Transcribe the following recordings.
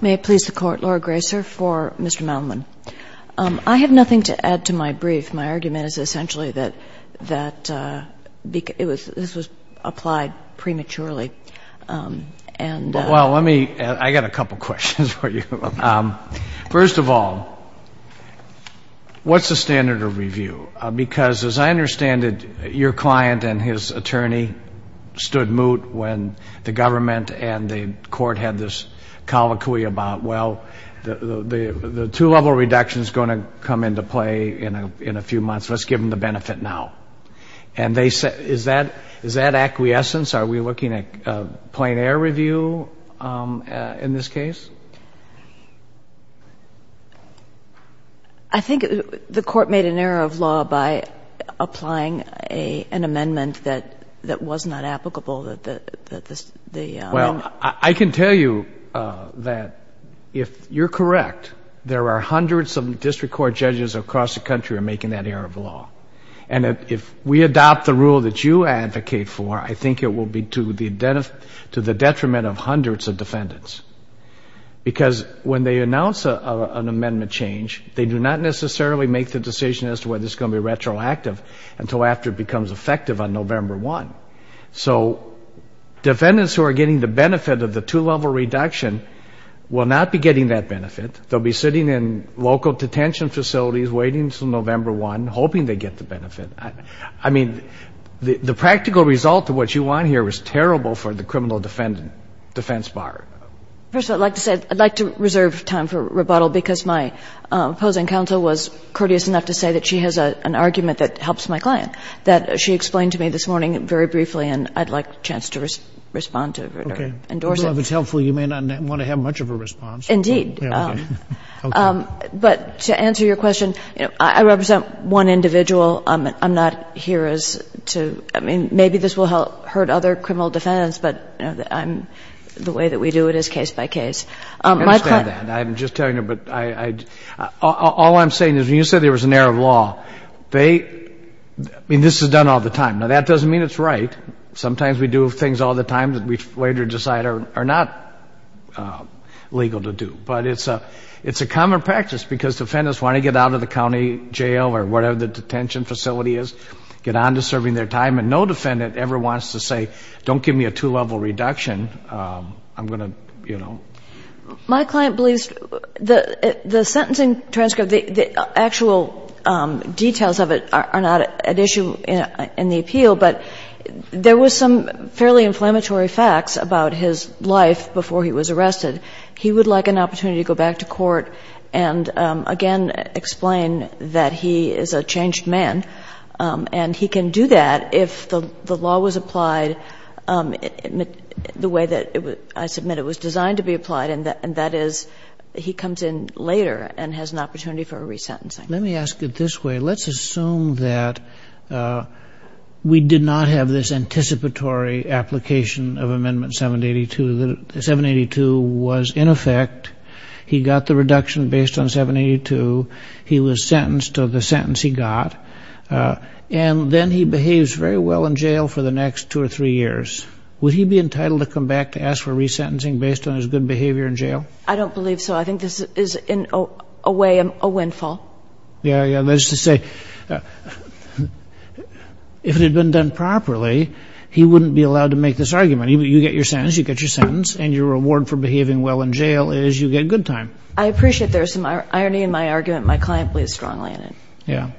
May it please the Court, Laura Graeser for Mr. Malimon. I have nothing to add to my brief. My argument is essentially that this was applied prematurely. Well, let me, I got a couple questions for you. First of all, what's the standard of review? Because as I understand it, your client and his attorney stood moot when the government and the Court had this colloquy about, well, the two-level reduction is going to come into play in a few months. Let's give them the benefit now. And they said, is that acquiescence? Are we looking at a plein air review in this case? I think the Court made an error of law by applying an amendment that was not applicable. Well, I can tell you that if you're correct, there are hundreds of district court judges across the country who are making that error of law. And if we adopt the rule that you advocate for, I think it will be to the detriment of hundreds of defendants. Because when they announce an amendment change, they do not necessarily make the decision as to whether it's going to be retroactive until after it becomes effective on November 1. So defendants who are getting the benefit of the two-level reduction will not be getting that benefit. They'll be sitting in local detention facilities waiting until November 1, hoping they get the benefit. I mean, the practical result of what you want here is terrible for the criminal defense bar. First of all, I'd like to say I'd like to reserve time for rebuttal, because my opposing counsel was courteous enough to say that she has an argument that helps my client, that she explained to me this morning very briefly, and I'd like a chance to respond to it or endorse it. Okay. Well, if it's helpful, you may not want to have much of a response. Indeed. Okay. But to answer your question, you know, I represent one individual. I'm not here as to — I mean, maybe this will hurt other criminal defendants, but, you know, the way that we do it is case by case. I understand that. I'm just telling you, but I — all I'm saying is when you said there was an error of law, they — I mean, this is done all the time. Now, that doesn't mean it's right. Sometimes we do things all the time that we later decide are not legal to do. But it's a common practice, because defendants want to get out of the county jail or whatever the detention facility is, get on to serving their time, and no defendant ever wants to say, don't give me a two-level reduction. I'm going to, you know — My client believes the sentencing transcript, the actual details of it, are not an issue in the appeal, but there were some fairly inflammatory facts about his life before he was arrested. He would like an opportunity to go back to court and, again, explain that he is a changed man, and he can do that if the law was applied the way that I submit it was designed to be applied, and that is he comes in later and has an opportunity for a resentencing. Let me ask it this way. Let's assume that we did not have this anticipatory application of Amendment 782. 782 was in effect. He got the reduction based on 782. He was sentenced to the sentence he got. And then he behaves very well in jail for the next two or three years. Would he be entitled to come back to ask for resentencing based on his good behavior in jail? I don't believe so. I think this is, in a way, a windfall. Yeah, yeah. That's to say, if it had been done properly, he wouldn't be allowed to make this argument. You get your sentence. You get your sentence. And your reward for behaving well in jail is you get good time. I appreciate there's some irony in my argument. My client believes strongly in it. Yeah.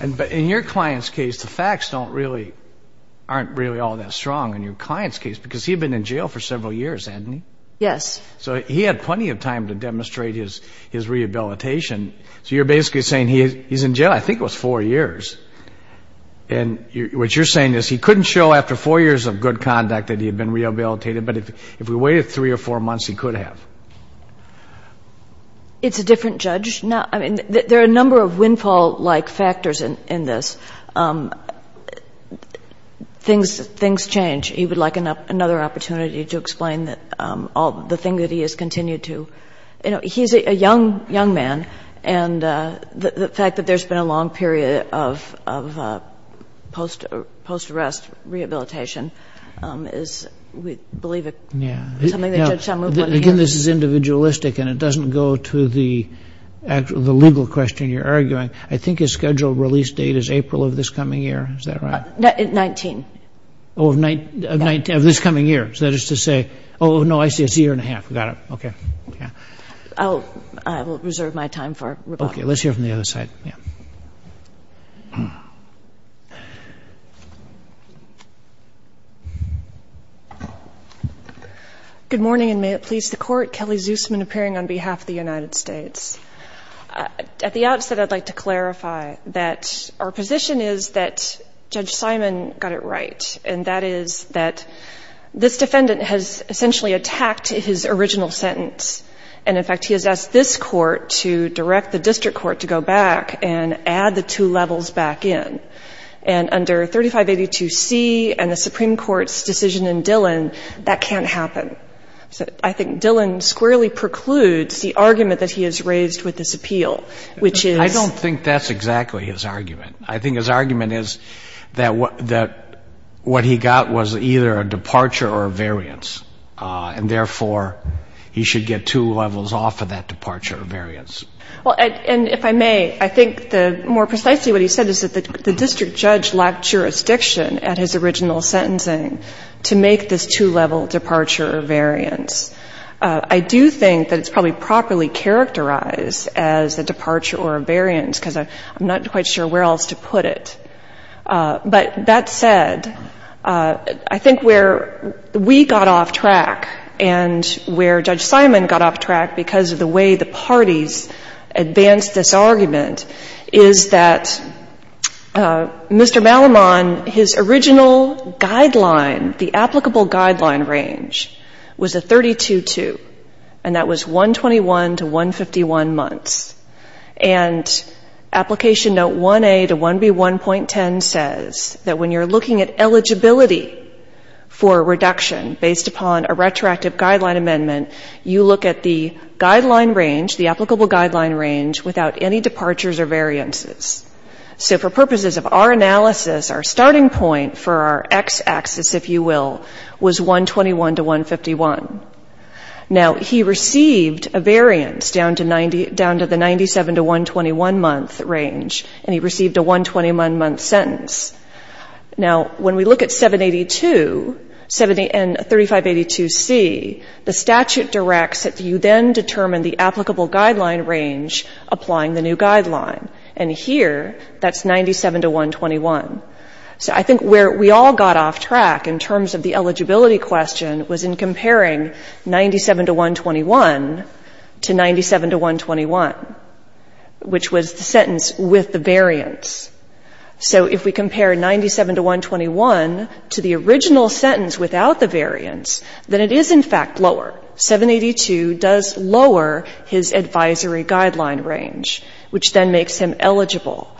But in your client's case, the facts aren't really all that strong in your client's case because he had been in jail for several years, hadn't he? Yes. So he had plenty of time to demonstrate his rehabilitation. So you're basically saying he's in jail, I think it was, four years. And what you're saying is he couldn't show after four years of good conduct that he had been rehabilitated, but if we waited three or four months, he could have. It's a different judge. I mean, there are a number of windfall-like factors in this. Things change. He would like another opportunity to explain the thing that he has continued to. He's a young man, and the fact that there's been a long period of post-arrest rehabilitation is, we believe, something the judge shall move on to hear. Again, this is individualistic, and it doesn't go to the legal question you're arguing. I think his scheduled release date is April of this coming year. Is that right? 19. Oh, of this coming year. So that is to say, oh, no, I see. It's a year and a half. Got it. Okay. I will reserve my time for rebuttal. Okay. Let's hear from the other side. Yeah. Good morning, and may it please the Court. Kelly Zusman appearing on behalf of the United States. At the outset, I'd like to clarify that our position is that Judge Simon got it right, and that is that this defendant has essentially attacked his original sentence, and, in fact, he has asked this Court to direct the district court to go back and add the two levels back in. And under 3582C and the Supreme Court's decision in Dillon, that can't happen. So I think Dillon squarely precludes the argument that he has raised with this appeal, which is — I don't think that's exactly his argument. I think his argument is that what he got was either a departure or a variance, and, therefore, he should get two levels off of that departure or variance. And if I may, I think more precisely what he said is that the district judge lacked jurisdiction at his original sentencing to make this two-level departure or variance. I do think that it's probably properly characterized as a departure or a variance because I'm not quite sure where else to put it. But that said, I think where we got off track and where Judge Simon got off track because of the way the parties advanced this argument is that Mr. Malamon, his original guideline, the applicable guideline range, was a 32-2, and that was 121 to 151 months. And Application Note 1A to 1B1.10 says that when you're looking at eligibility for reduction based upon a retroactive guideline amendment, you look at the guideline range, the applicable guideline range, without any departures or variances. So for purposes of our analysis, our starting point for our X-axis, if you will, was 121 to 151. Now, he received a variance down to the 97 to 121-month range, and he received a 121-month sentence. Now, when we look at 782 and 3582C, the statute directs that you then determine the applicable guideline range applying the new guideline. And here, that's 97 to 121. So I think where we all got off track in terms of the eligibility question was in comparing 97 to 121 to 97 to 121, which was the sentence with the variance. So if we compare 97 to 121 to the original sentence without the variance, then it is, in fact, lower. 782 does lower his advisory guideline range, which then makes him eligible.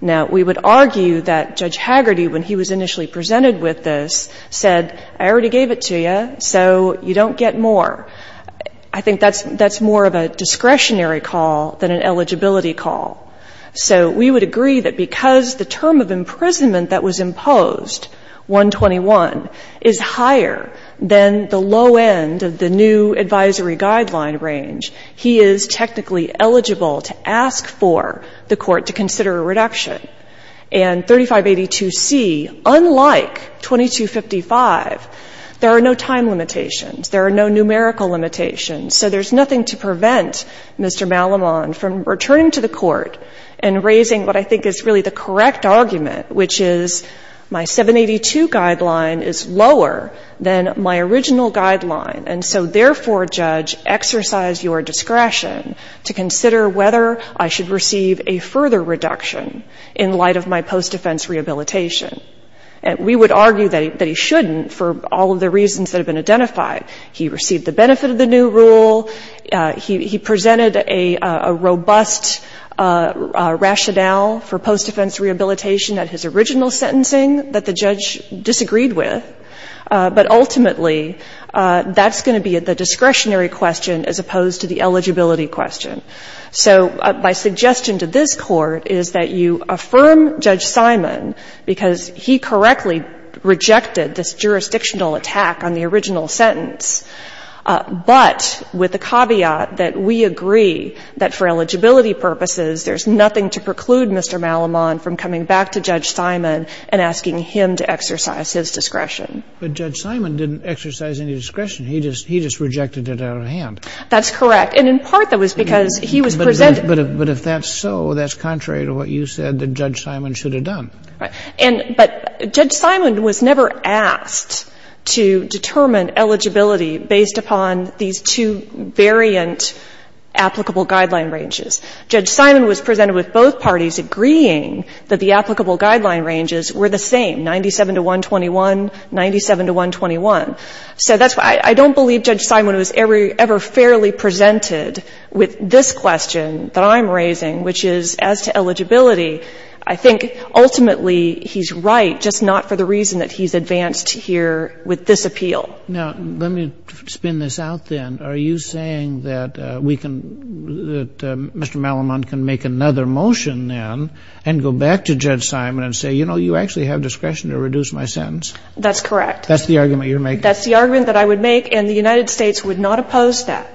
Now, we would argue that Judge Hagerty, when he was initially presented with this, said, I already gave it to you, so you don't get more. I think that's more of a discretionary call than an eligibility call. So we would agree that because the term of imprisonment that was imposed, 121, is higher than the low end of the new advisory guideline range, he is technically eligible to ask for the court to consider a reduction. And 3582C, unlike 2255, there are no time limitations. There are no numerical limitations. So there's nothing to prevent Mr. Malamon from returning to the court and raising what I think is really the correct argument, which is my 782 guideline is lower than my original guideline. And so, therefore, judge, exercise your discretion to consider whether I should receive a further reduction in light of my post-defense rehabilitation. And we would argue that he shouldn't for all of the reasons that have been identified. He received the benefit of the new rule. He presented a robust rationale for post-defense rehabilitation at his original sentencing that the judge disagreed with. But ultimately, that's going to be the discretionary question as opposed to the eligibility question. So my suggestion to this Court is that you affirm Judge Simon because he correctly rejected this jurisdictional attack on the original sentence, but with the caveat that we agree that for eligibility purposes, there's nothing to preclude Mr. Malamon from coming back to Judge Simon and asking him to exercise his discretion. But Judge Simon didn't exercise any discretion. He just rejected it out of hand. That's correct. And in part, that was because he was presented. But if that's so, that's contrary to what you said that Judge Simon should have done. Right. But Judge Simon was never asked to determine eligibility based upon these two variant applicable guideline ranges. Judge Simon was presented with both parties agreeing that the applicable guideline ranges were the same, 97-121, 97-121. So that's why I don't believe Judge Simon was ever fairly presented with this question that I'm raising, which is as to eligibility, I think ultimately he's right, just not for the reason that he's advanced here with this appeal. Now, let me spin this out then. Are you saying that we can — that Mr. Malamon can make another motion then and go back to Judge Simon and say, you know, you actually have discretion to reduce my sentence? That's correct. That's the argument you're making? That's the argument that I would make. And the United States would not oppose that.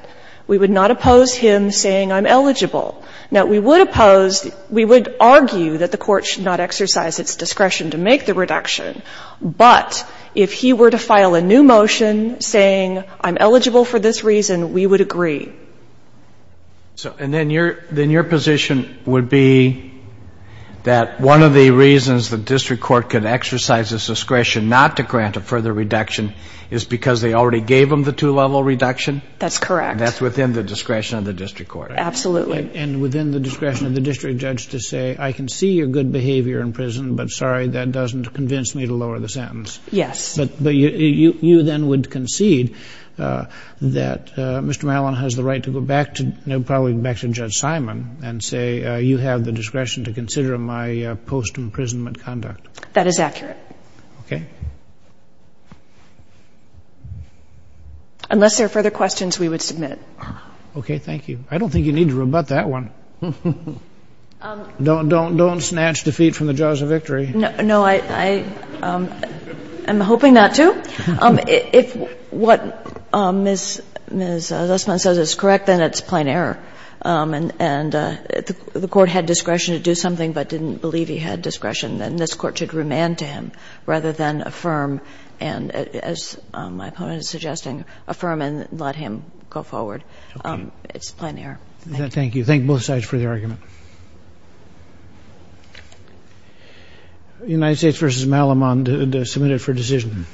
We would not oppose him saying, I'm eligible. Now, we would oppose — we would argue that the Court should not exercise its discretion to make the reduction. But if he were to file a new motion saying, I'm eligible for this reason, we would agree. And then your position would be that one of the reasons the district court could exercise its discretion not to grant a further reduction is because they already gave him the two-level reduction? That's correct. And that's within the discretion of the district court? Absolutely. And within the discretion of the district judge to say, I can see your good behavior in prison, but sorry, that doesn't convince me to lower the sentence. Yes. But you then would concede that Mr. Mallon has the right to go back to — you know, probably back to Judge Simon and say, you have the discretion to consider my post-imprisonment conduct. That is accurate. Okay. Unless there are further questions, we would submit. Okay. Thank you. I don't think you need to rebut that one. Don't snatch defeat from the jaws of victory. No. I'm hoping not to. If what Ms. Lussman says is correct, then it's plain error. And if the Court had discretion to do something but didn't believe he had discretion, then this Court should remand to him rather than affirm and, as my opponent is suggesting, affirm and let him go forward. Okay. It's plain error. Thank you. Thank you. Thank both sides for the argument. United States v. Malamon to submit it for decision.